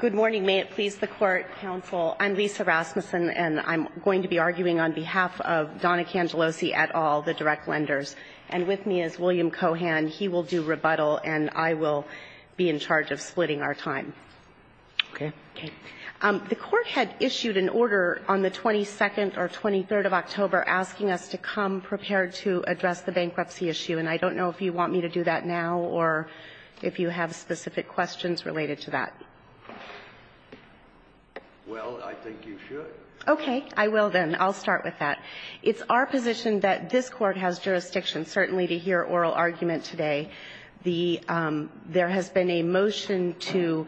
Good morning. May it please the Court, Counsel. I'm Lisa Rasmussen, and I'm going to be arguing on behalf of Donna Cangelosi et al., the direct lenders. And with me is William Cohan. He will do rebuttal, and I will be in charge of splitting our time. Okay. Okay. The Court had issued an order on the 22nd or 23rd of October asking us to come prepared to address the bankruptcy issue, and I don't know if you want me to do that now or if you have specific questions related to that. Well, I think you should. Okay. I will then. I'll start with that. It's our position that this Court has jurisdiction, certainly, to hear oral argument today. The – there has been a motion to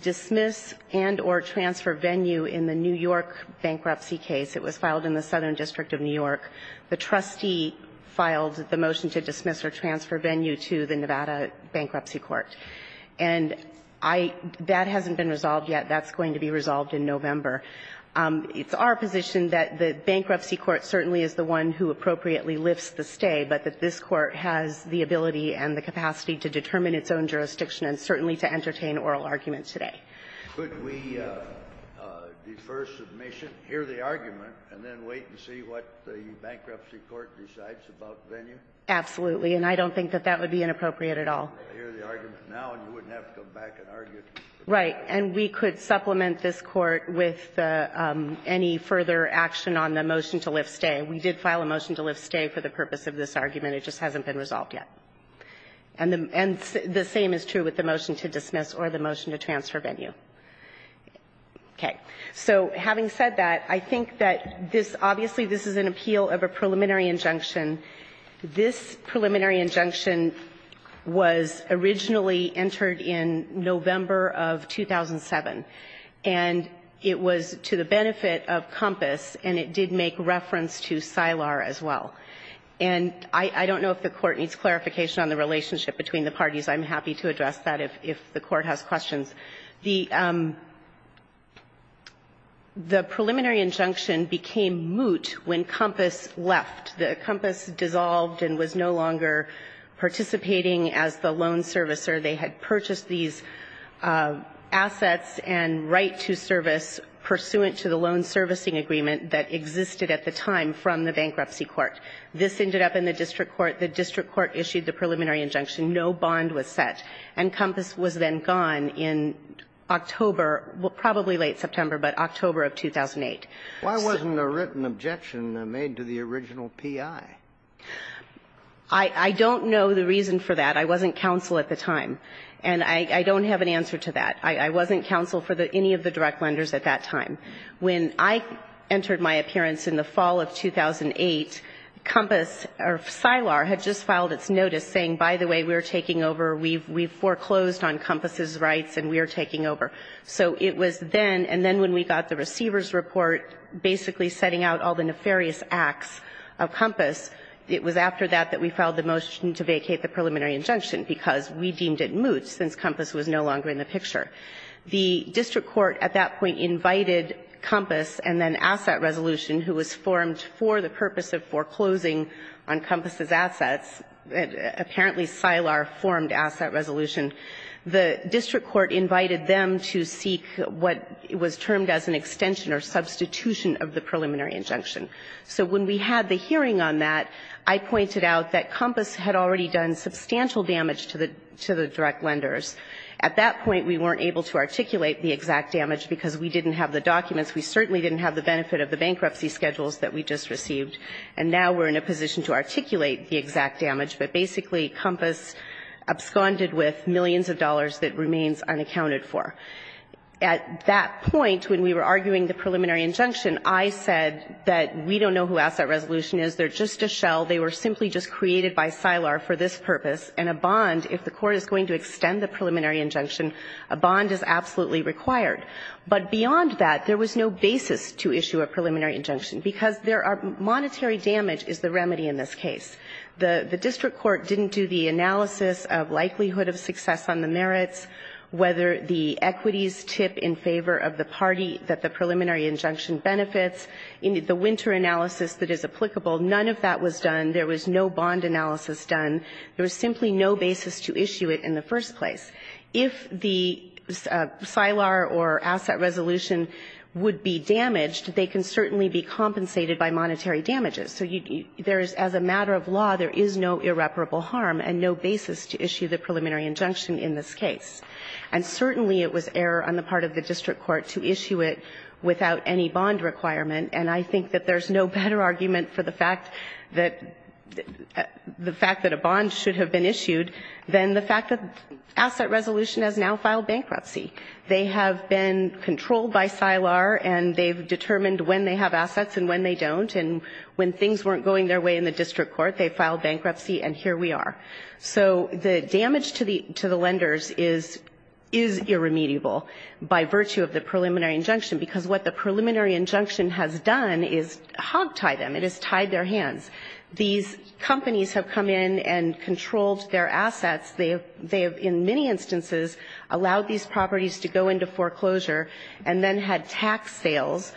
dismiss and or transfer venue in the New York bankruptcy case. It was filed in the Southern District of New York. The trustee filed the motion to dismiss or transfer venue to the Nevada Bankruptcy Court. And I – that hasn't been resolved yet. That's going to be resolved in November. It's our position that the Bankruptcy Court certainly is the one who appropriately lifts the stay, but that this Court has the ability and the capacity to determine its own jurisdiction and certainly to entertain oral argument today. Could we defer submission, hear the argument, and then wait and see what the Bankruptcy Court decides about venue? Absolutely. And I don't think that that would be inappropriate at all. I hear the argument now, and you wouldn't have to come back and argue it. Right. And we could supplement this Court with any further action on the motion to lift stay. We did file a motion to lift stay for the purpose of this argument. It just hasn't been resolved yet. And the same is true with the motion to dismiss or the motion to transfer venue. Okay. So having said that, I think that this – obviously, this is an appeal of a preliminary injunction. This preliminary injunction was originally entered in November of 2007, and it was to the benefit of COMPAS, and it did make reference to SILAR as well. And I don't know if the Court needs clarification on the relationship between the parties. I'm happy to address that if the Court has questions. The preliminary injunction became moot when COMPAS left. COMPAS dissolved and was no longer participating as the loan servicer. They had purchased these assets and right to service pursuant to the loan servicing agreement that existed at the time from the Bankruptcy Court. This ended up in the district court. The district court issued the preliminary injunction. No bond was set. And COMPAS was then gone in October, probably late September, but October of 2008. Why wasn't a written objection made to the original P.I.? I don't know the reason for that. I wasn't counsel at the time, and I don't have an answer to that. I wasn't counsel for any of the direct lenders at that time. When I entered my appearance in the fall of 2008, COMPAS or SILAR had just filed its notice saying, by the way, we're taking over, we've foreclosed on COMPAS's rights, and we're taking over. So it was then, and then when we got the receiver's report basically setting out all the nefarious acts of COMPAS, it was after that that we filed the motion to vacate the preliminary injunction, because we deemed it moot, since COMPAS was no longer in the picture. The district court at that point invited COMPAS and then Asset Resolution, who was formed for the purpose of foreclosing on COMPAS's assets, apparently SILAR formed Asset Resolution. The district court invited them to seek what was termed as an extension or substitution of the preliminary injunction. So when we had the hearing on that, I pointed out that COMPAS had already done substantial damage to the direct lenders. At that point, we weren't able to articulate the exact damage, because we didn't have the documents. We certainly didn't have the benefit of the bankruptcy schedules that we just received. And now we're in a position to articulate the exact damage. But basically COMPAS absconded with millions of dollars that remains unaccounted for. At that point, when we were arguing the preliminary injunction, I said that we don't know who Asset Resolution is. They're just a shell. They were simply just created by SILAR for this purpose. And a bond, if the court is going to extend the preliminary injunction, a bond is absolutely required. But beyond that, there was no basis to issue a preliminary injunction, because there are monetary damage is the remedy in this case. The district court didn't do the analysis of likelihood of success on the merits, whether the equities tip in favor of the party that the preliminary injunction benefits. The winter analysis that is applicable, none of that was done. There was no bond analysis done. There was simply no basis to issue it in the first place. If the SILAR or Asset Resolution would be damaged, they can certainly be compensated by monetary damages. So there is, as a matter of law, there is no irreparable harm and no basis to issue the preliminary injunction in this case. And certainly it was error on the part of the district court to issue it without any bond requirement. And I think that there's no better argument for the fact that a bond should have been issued than the fact that Asset Resolution has now filed bankruptcy. They have been controlled by SILAR and they've determined when they have assets and when they don't. And when things weren't going their way in the district court, they filed bankruptcy and here we are. So the damage to the lenders is irremediable by virtue of the preliminary injunction, because what the preliminary injunction has done is hogtied them. It has tied their hands. These companies have come in and controlled their assets. They have in many instances allowed these properties to go into foreclosure and then had tax sales.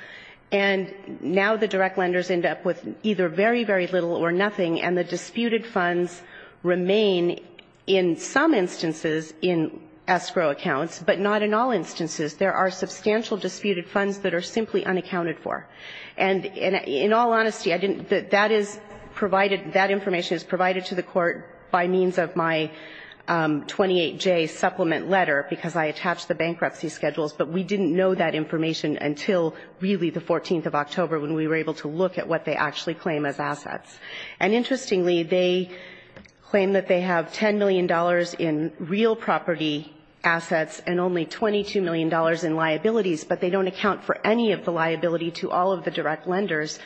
And now the direct lenders end up with either very, very little or nothing, and the disputed funds remain in some instances in escrow accounts, but not in all instances. There are substantial disputed funds that are simply unaccounted for. And in all honesty, I didn't – that is provided – that information is provided to the court by means of my 28J supplement letter, because I attached the bankruptcy schedules, but we didn't know that information until really the 14th of October when we were able to look at what they actually claim as assets. And interestingly, they claim that they have $10 million in real property assets and only $22 million in liabilities, but they don't account for any of the liability to all of the direct lenders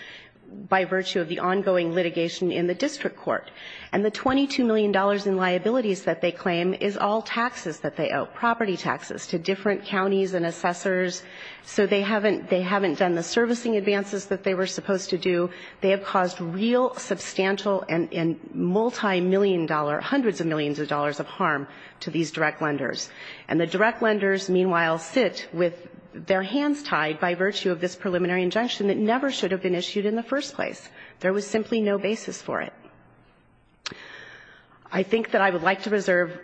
by virtue of the ongoing litigation in the district court. And the $22 million in liabilities that they claim is all taxes that they owe, but property taxes to different counties and assessors. So they haven't – they haven't done the servicing advances that they were supposed to do. They have caused real substantial and multimillion dollar – hundreds of millions of dollars of harm to these direct lenders. And the direct lenders, meanwhile, sit with their hands tied by virtue of this preliminary injunction that never should have been issued in the first place. There was simply no basis for it. I think that I would like to reserve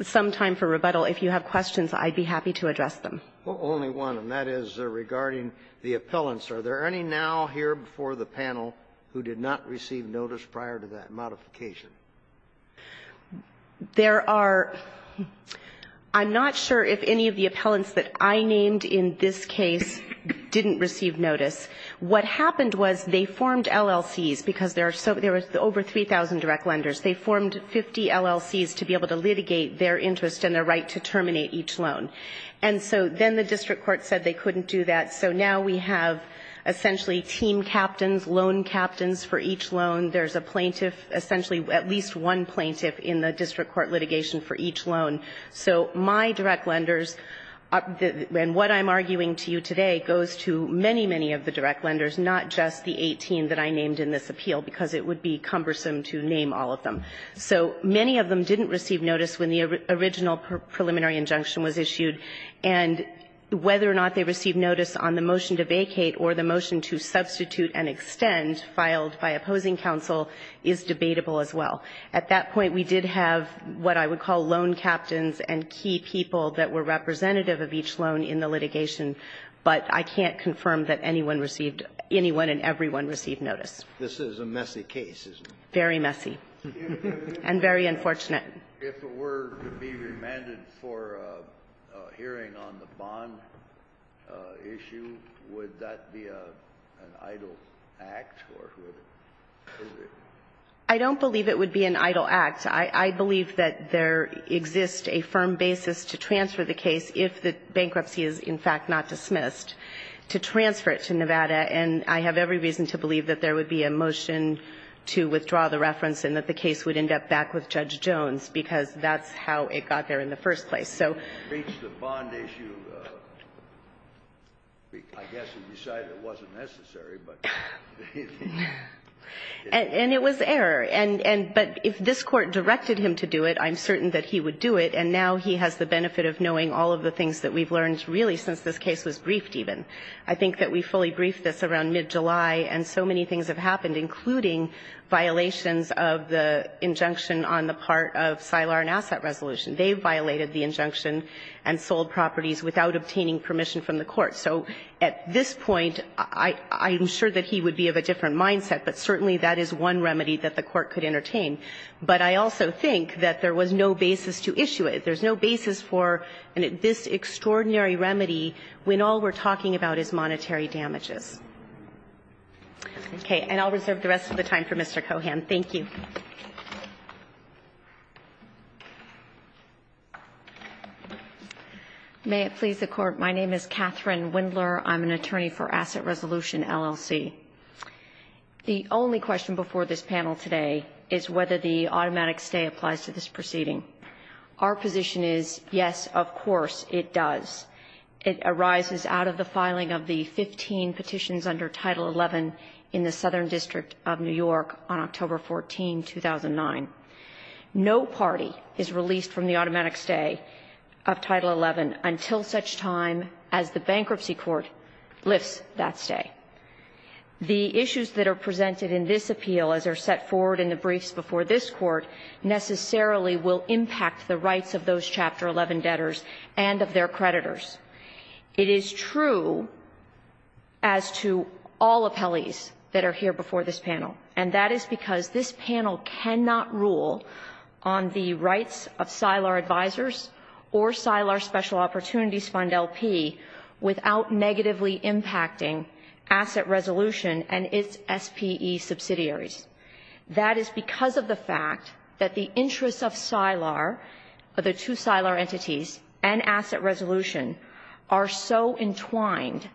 some time for rebuttal. If you have questions, I'd be happy to address them. Well, only one, and that is regarding the appellants. Are there any now here before the panel who did not receive notice prior to that modification? There are – I'm not sure if any of the appellants that I named in this case didn't receive notice. What happened was they formed LLCs because there are – there were over 3,000 direct lenders. They formed 50 LLCs to be able to litigate their interest and their right to terminate each loan. And so then the district court said they couldn't do that. So now we have essentially team captains, loan captains for each loan. There's a plaintiff – essentially at least one plaintiff in the district court litigation for each loan. So my direct lenders – and what I'm arguing to you today goes to many, many of the direct lenders, not just the 18 that I named in this appeal, because it would be cumbersome to name all of them. So many of them didn't receive notice when the original preliminary injunction was issued, and whether or not they received notice on the motion to vacate or the motion to substitute and extend filed by opposing counsel is debatable as well. At that point, we did have what I would call loan captains and key people that were representative of each loan in the litigation. But I can't confirm that anyone received – anyone and everyone received notice. This is a messy case, isn't it? Very messy. And very unfortunate. If it were to be remanded for a hearing on the bond issue, would that be an idle act, or would it? I don't believe it would be an idle act. I believe that there exists a firm basis to transfer the case if the bankruptcy is, in fact, not dismissed, to transfer it to Nevada. And I have every reason to believe that there would be a motion to withdraw the reference and that the case would end up back with Judge Jones, because that's how it got there in the first place. And it was error. But if this Court directed him to do it, I'm certain that he would do it, and now he has the benefit of knowing all of the things that we've learned really since this case was briefed even. I think that we fully briefed this around mid-July, and so many things have happened, including violations of the injunction on the part of SILAR and Asset Resolution. They violated the injunction and sold properties without obtaining permission from the Court. So at this point, I'm sure that he would be of a different mindset, but certainly that is one remedy that the Court could entertain. But I also think that there was no basis to issue it. There's no basis for this extraordinary remedy when all we're talking about is monetary damages. Okay. And I'll reserve the rest of the time for Mr. Cohan. Thank you. May it please the Court. My name is Catherine Windler. I'm an attorney for Asset Resolution, LLC. The only question before this panel today is whether the automatic stay applies to this proceeding. Our position is, yes, of course it does. It arises out of the filing of the 15 petitions under Title XI in the Southern District of New York on October 14, 2009. No party is released from the automatic stay of Title XI until such time as the bankruptcy court lifts that stay. The issues that are presented in this appeal, as are set forward in the briefs before this Court, necessarily will impact the rights of those Chapter XI debtors and of their creditors. It is true as to all appellees that are here before this panel, and that is because this panel cannot rule on the rights of SILAR advisors or SILAR Special Opportunities Fund LP without negatively impacting asset resolution and its SPE subsidiaries. That is because of the fact that the interests of SILAR, of the two SILAR entities and asset resolution are so entwined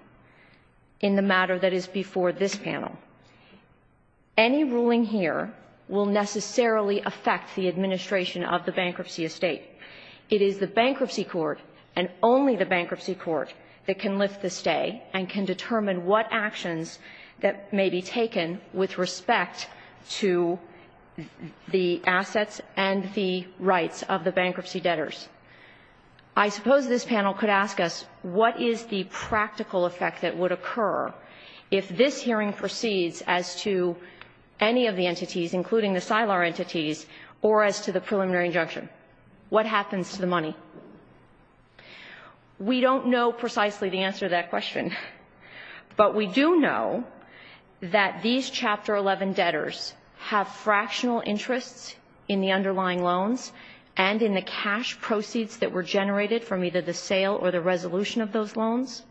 in the matter that is before this panel. Any ruling here will necessarily affect the administration of the bankruptcy estate. It is the bankruptcy court and only the bankruptcy court that can lift the stay and can determine what actions that may be taken with respect to the assets and the bankruptcy debtors. I suppose this panel could ask us, what is the practical effect that would occur if this hearing proceeds as to any of the entities, including the SILAR entities, or as to the preliminary injunction? What happens to the money? We don't know precisely the answer to that question. But we do know that these Chapter XI debtors have fractional interests in the cash proceeds that were generated from either the sale or the resolution of those loans.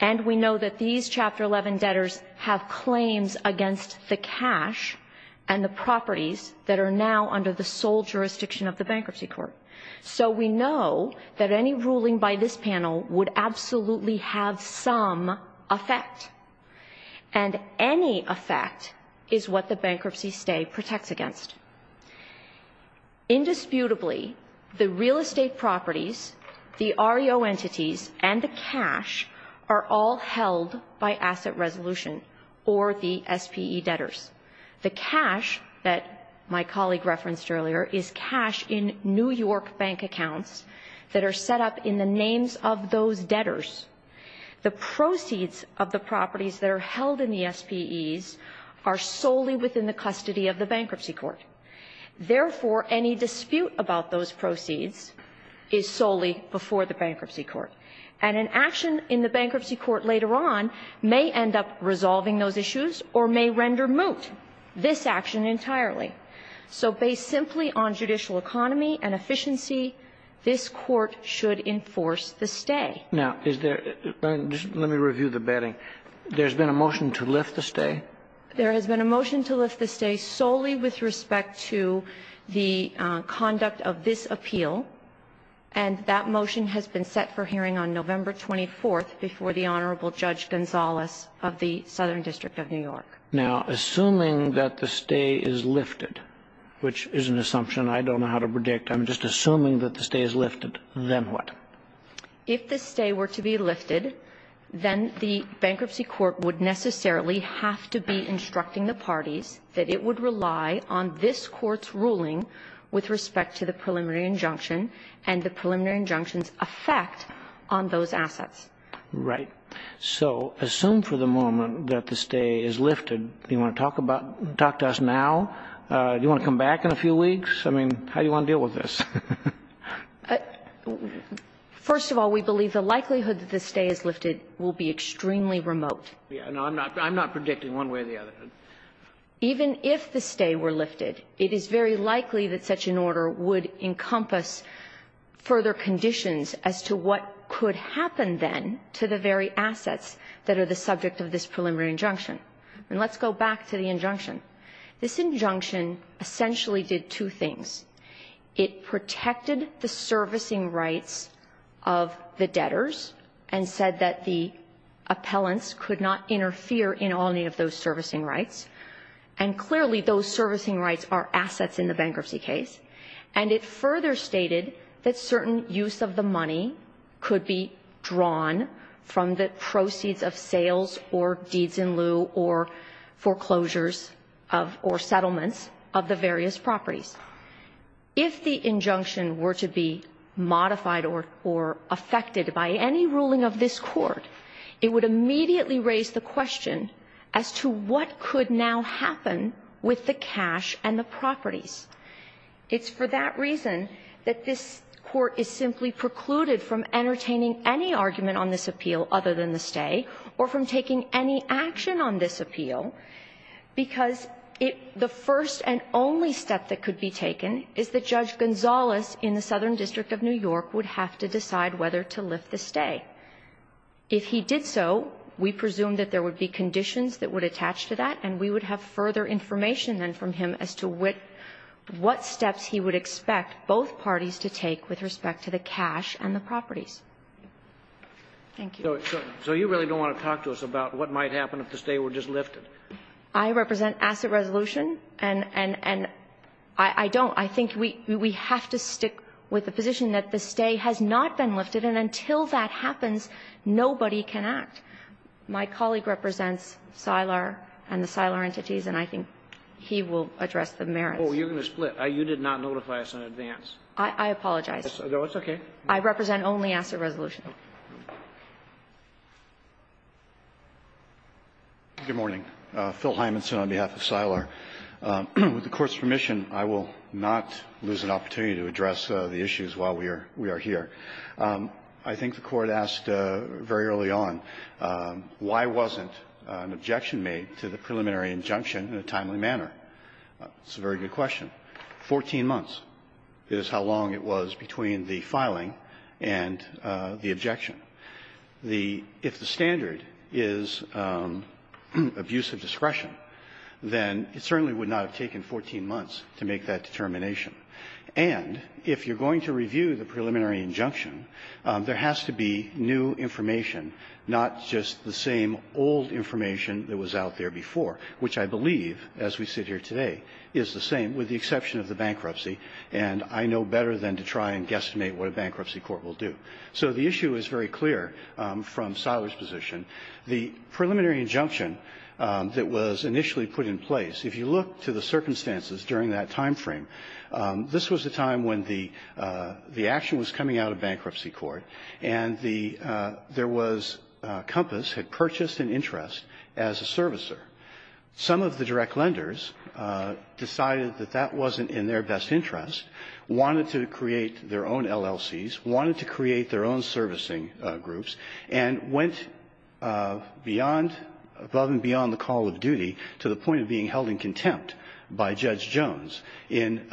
And we know that these Chapter XI debtors have claims against the cash and the properties that are now under the sole jurisdiction of the bankruptcy court. So we know that any ruling by this panel would absolutely have some effect. And any effect is what the bankruptcy stay protects against. Indisputably, the real estate properties, the REO entities, and the cash are all held by asset resolution or the SPE debtors. The cash that my colleague referenced earlier is cash in New York bank accounts that are set up in the names of those debtors. The proceeds of the properties that are held in the SPEs are solely within the bankruptcy court. Therefore, any dispute about those proceeds is solely before the bankruptcy court. And an action in the bankruptcy court later on may end up resolving those issues or may render moot this action entirely. So based simply on judicial economy and efficiency, this Court should enforce the stay. Now, is there – let me review the betting. There's been a motion to lift the stay? There has been a motion to lift the stay solely with respect to the conduct of this appeal. And that motion has been set for hearing on November 24th before the Honorable Judge Gonzales of the Southern District of New York. Now, assuming that the stay is lifted, which is an assumption I don't know how to predict, I'm just assuming that the stay is lifted, then what? If the stay were to be lifted, then the bankruptcy court would necessarily have to be instructing the parties that it would rely on this Court's ruling with respect to the preliminary injunction and the preliminary injunction's effect on those assets. Right. So assume for the moment that the stay is lifted. Do you want to talk about – talk to us now? Do you want to come back in a few weeks? I mean, how do you want to deal with this? First of all, we believe the likelihood that the stay is lifted will be extremely remote. I'm not predicting one way or the other. Even if the stay were lifted, it is very likely that such an order would encompass further conditions as to what could happen then to the very assets that are the subject of this preliminary injunction. And let's go back to the injunction. This injunction essentially did two things. It protected the servicing rights of the debtors and said that the appellants could not interfere in all need of those servicing rights. And clearly, those servicing rights are assets in the bankruptcy case. And it further stated that certain use of the money could be drawn from the proceeds of sales or deeds in lieu or foreclosures or settlements of the various properties. If the injunction were to be modified or affected by any ruling of this court, it would immediately raise the question as to what could now happen with the cash and the properties. It's for that reason that this court is simply precluded from entertaining any argument on this appeal other than the stay or from taking any action on this appeal because the first and only step that could be taken is that Judge Gonzalez in the Southern District of New York would have to decide whether to lift the stay. If he did so, we presume that there would be conditions that would attach to that, and we would have further information then from him as to what steps he would expect both parties to take with respect to the cash and the properties. Thank you. So you really don't want to talk to us about what might happen if the stay were just lifted? I represent asset resolution, and I don't. I think we have to stick with the position that the stay has not been lifted, and until that happens, nobody can act. My colleague represents CYLAR and the CYLAR entities, and I think he will address the merits. Well, you're going to split. You did not notify us in advance. I apologize. No, it's okay. I represent only asset resolution. Good morning. Phil Hymanson on behalf of CYLAR. With the Court's permission, I will not lose an opportunity to address the issues while we are here. I think the Court asked very early on why wasn't an objection made to the preliminary injunction in a timely manner. It's a very good question. Fourteen months is how long it was between the filing and the objection. The – if the standard is abuse of discretion, then it certainly would not have taken 14 months to make that determination. And if you're going to review the preliminary injunction, there has to be new information, not just the same old information that was out there before, which I believe, as we sit here today, is the same, with the exception of the bankruptcy. And I know better than to try and guesstimate what a bankruptcy court will do. So the issue is very clear from CYLAR's position. The preliminary injunction that was initially put in place, if you look to the circumstances during that timeframe, this was a time when the action was coming out of bankruptcy court, and the – there was – Compass had purchased an interest as a servicer. Some of the direct lenders decided that that wasn't in their best interest, wanted to create their own LLCs, wanted to create their own servicing groups, and went beyond – above and beyond the call of duty to the point of being held in contempt by Judge Jones in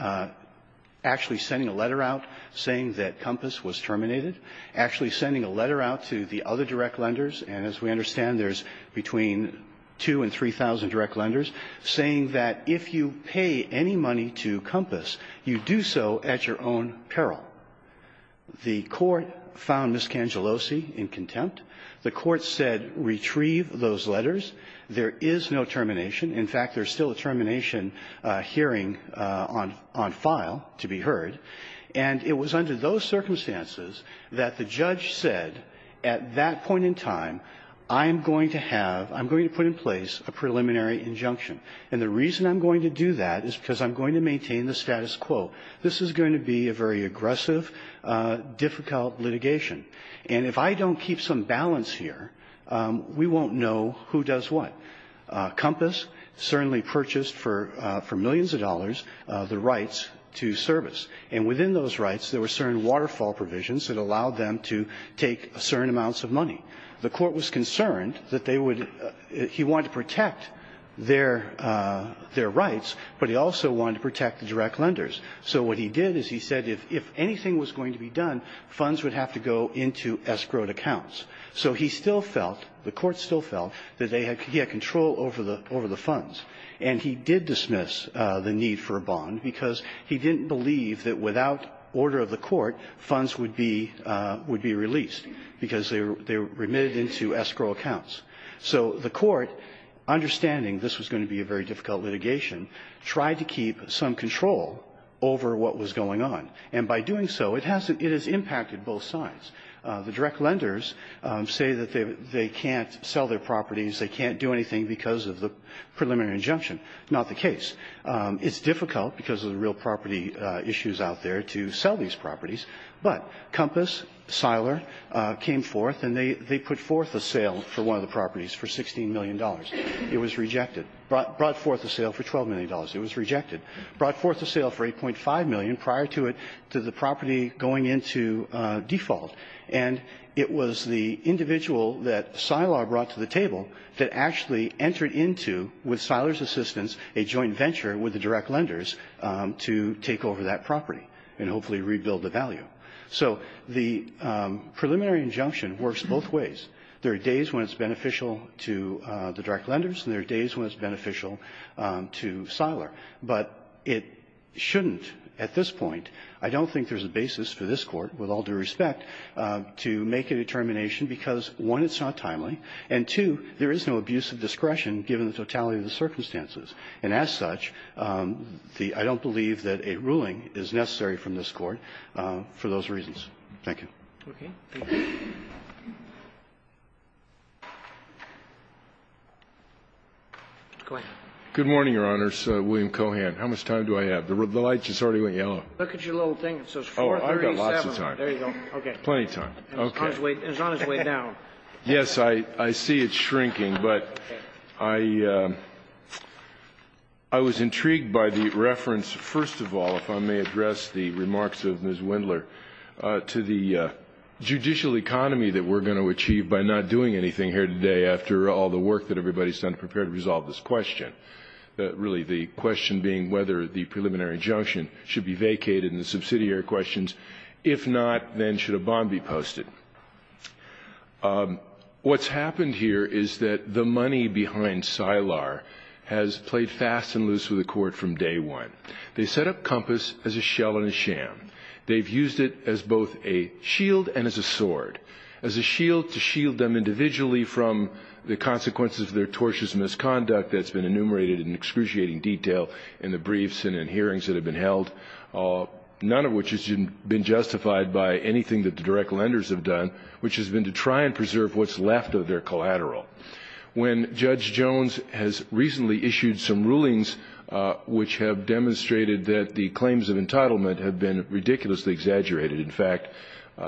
actually sending a letter out saying that Compass was terminated, actually sending a letter out to the other direct lenders. And as we understand, there's between 2,000 and 3,000 direct lenders saying that if you pay any money to Compass, you do so at your own peril. The court found Ms. Cangellosi in contempt. The court said retrieve those letters. There is no termination. In fact, there's still a termination hearing on – on file to be heard. And it was under those circumstances that the judge said at that point in time, I'm going to have – I'm going to put in place a preliminary injunction. And the reason I'm going to do that is because I'm going to maintain the status quo. This is going to be a very aggressive, difficult litigation. And if I don't keep some balance here, we won't know who does what. Compass certainly purchased for – for millions of dollars the rights to service. And within those rights, there were certain waterfall provisions that allowed them to take certain amounts of money. The court was concerned that they would – he wanted to protect their – their rights, but he also wanted to protect the direct lenders. So what he did is he said if anything was going to be done, funds would have to go into escrowed accounts. So he still felt, the court still felt that they had – he had control over the – over the funds. And he did dismiss the need for a bond because he didn't believe that without order of the court, funds would be – would be released because they were remitted into escrow accounts. So the court, understanding this was going to be a very difficult litigation, tried to keep some control over what was going on. And by doing so, it has – it has impacted both sides. The direct lenders say that they can't sell their properties. They can't do anything because of the preliminary injunction. Not the case. It's difficult because of the real property issues out there to sell these properties. But Compass, Seiler came forth and they put forth a sale for one of the properties for $16 million. It was rejected. Brought forth a sale for $12 million. It was rejected. Brought forth a sale for $8.5 million prior to it – to the property going into default. And it was the individual that Seiler brought to the table that actually entered into, with Seiler's assistance, a joint venture with the direct lenders to take over that property and hopefully rebuild the value. So the preliminary injunction works both ways. There are days when it's beneficial to the direct lenders and there are days when it's beneficial to Seiler. But it shouldn't at this point. I don't think there's a basis for this Court, with all due respect, to make a determination because, one, it's not timely, and, two, there is no abuse of discretion given the totality of the circumstances. And as such, the – I don't believe that a ruling is necessary from this Court for those reasons. Thank you. Roberts. Go ahead. Good morning, Your Honors. William Cohan. How much time do I have? The light just already went yellow. Look at your little thing. It says 437. Oh, I've got lots of time. There you go. Okay. Plenty of time. Okay. And it's on its way down. Yes, I see it shrinking, but I was intrigued by the reference, first of all, if I may achieve by not doing anything here today after all the work that everybody's done to prepare to resolve this question. Really, the question being whether the preliminary injunction should be vacated in the subsidiary questions. If not, then should a bond be posted? What's happened here is that the money behind Seiler has played fast and loose with the Court from day one. They set up Compass as a shell and a sham. They've used it as both a shield and as a sword, as a shield to shield them individually from the consequences of their tortious misconduct that's been enumerated in excruciating detail in the briefs and in hearings that have been held, none of which has been justified by anything that the direct lenders have done, which has been to try and preserve what's left of their collateral. When Judge Jones has recently issued some rulings which have demonstrated that the claims of entitlement have been ridiculously exaggerated. In fact,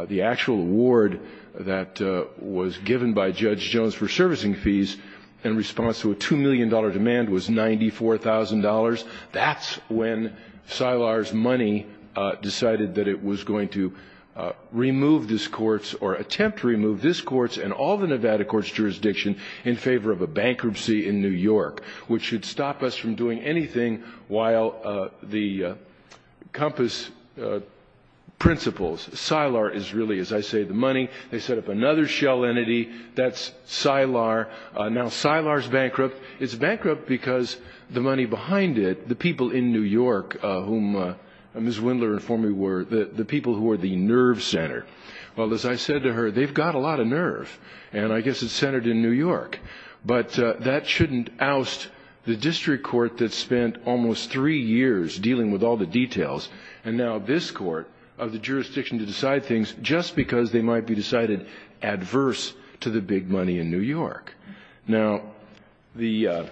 the actual award that was given by Judge Jones for servicing fees in response to a $2 million demand was $94,000. That's when Seiler's money decided that it was going to remove this Court's or attempt to remove this Court's and all the Nevada Court's jurisdiction in favor of a bankruptcy in New York, which should stop us from doing anything while the Compass principles. Seiler is really, as I say, the money. They set up another shell entity. That's Seiler. Now, Seiler's bankrupt. It's bankrupt because the money behind it, the people in New York whom Ms. Wendler informed me were the people who were the nerve center. Well, as I said to her, they've got a lot of nerve, and I guess it's centered in New York. But that shouldn't oust the district court that spent almost three years dealing with all the details, and now this court of the jurisdiction to decide things just because they might be decided adverse to the big money in New York. Now, the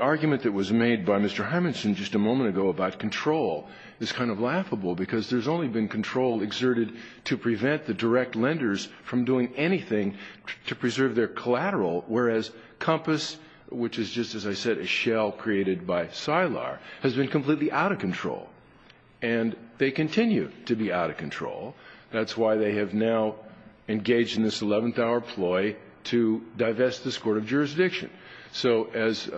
argument that was made by Mr. Harmonson just a moment ago about control is kind of laughable, because there's only been control exerted to prevent the direct lenders from doing anything to preserve their collateral, whereas Compass, which is just, as I said, a shell created by Seiler, has been completely out of control. And they continue to be out of control. That's why they have now engaged in this eleventh-hour ploy to divest this court of jurisdiction. So as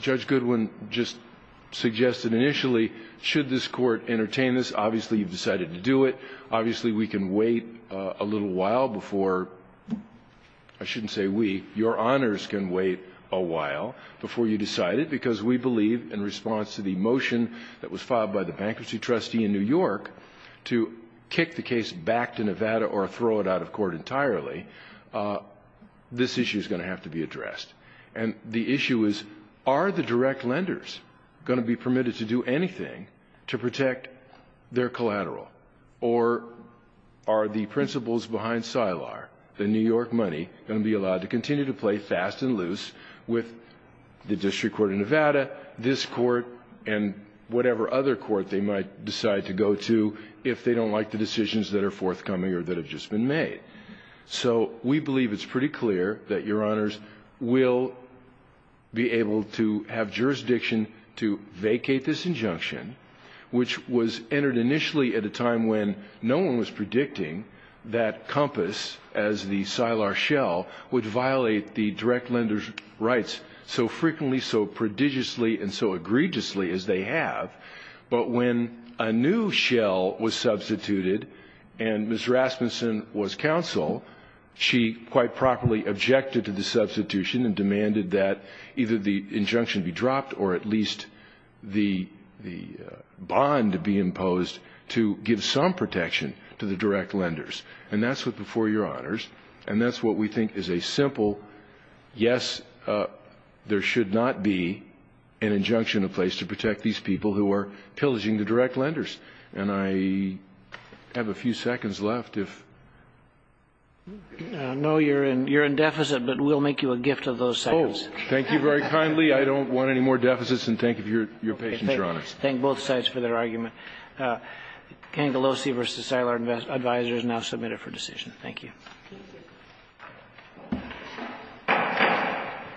Judge Goodwin just suggested initially, should this court entertain this, obviously you've decided to do it. Obviously, we can wait a little while before – I shouldn't say we. Your honors can wait a while before you decide it, because we believe in response to the motion that was filed by the bankruptcy trustee in New York to kick the case back to Nevada or throw it out of court entirely, this issue is going to have to be addressed. And the issue is, are the direct lenders going to be permitted to do anything to protect their collateral? Or are the principals behind Seiler, the New York money, going to be allowed to continue to play fast and loose with the district court of Nevada, this court, and whatever other court they might decide to go to if they don't like the decisions that are forthcoming or that have just been made? So we believe it's pretty clear that your honors will be able to have jurisdiction to vacate this injunction, which was entered initially at a time when no one was predicting that Compass, as the Seiler shell, would violate the direct lender's rights so frequently, so prodigiously, and so egregiously as they have. But when a new shell was substituted and Ms. Rasmussen was counsel, she quite properly objected to the substitution and demanded that either the injunction be dropped or at least the bond be imposed to give some protection to the direct lenders. And that's what before your honors. And that's what we think is a simple, yes, there should not be an injunction in place to protect these people who are pillaging the direct lenders. And I have a few seconds left. No, you're in deficit, but we'll make you a gift of those seconds. Thank you very kindly. I don't want any more deficits. And thank you for your patience, your honors. Thank both sides for their argument. Ganglossi v. Seiler Advisors now submitted for decision. Thank you.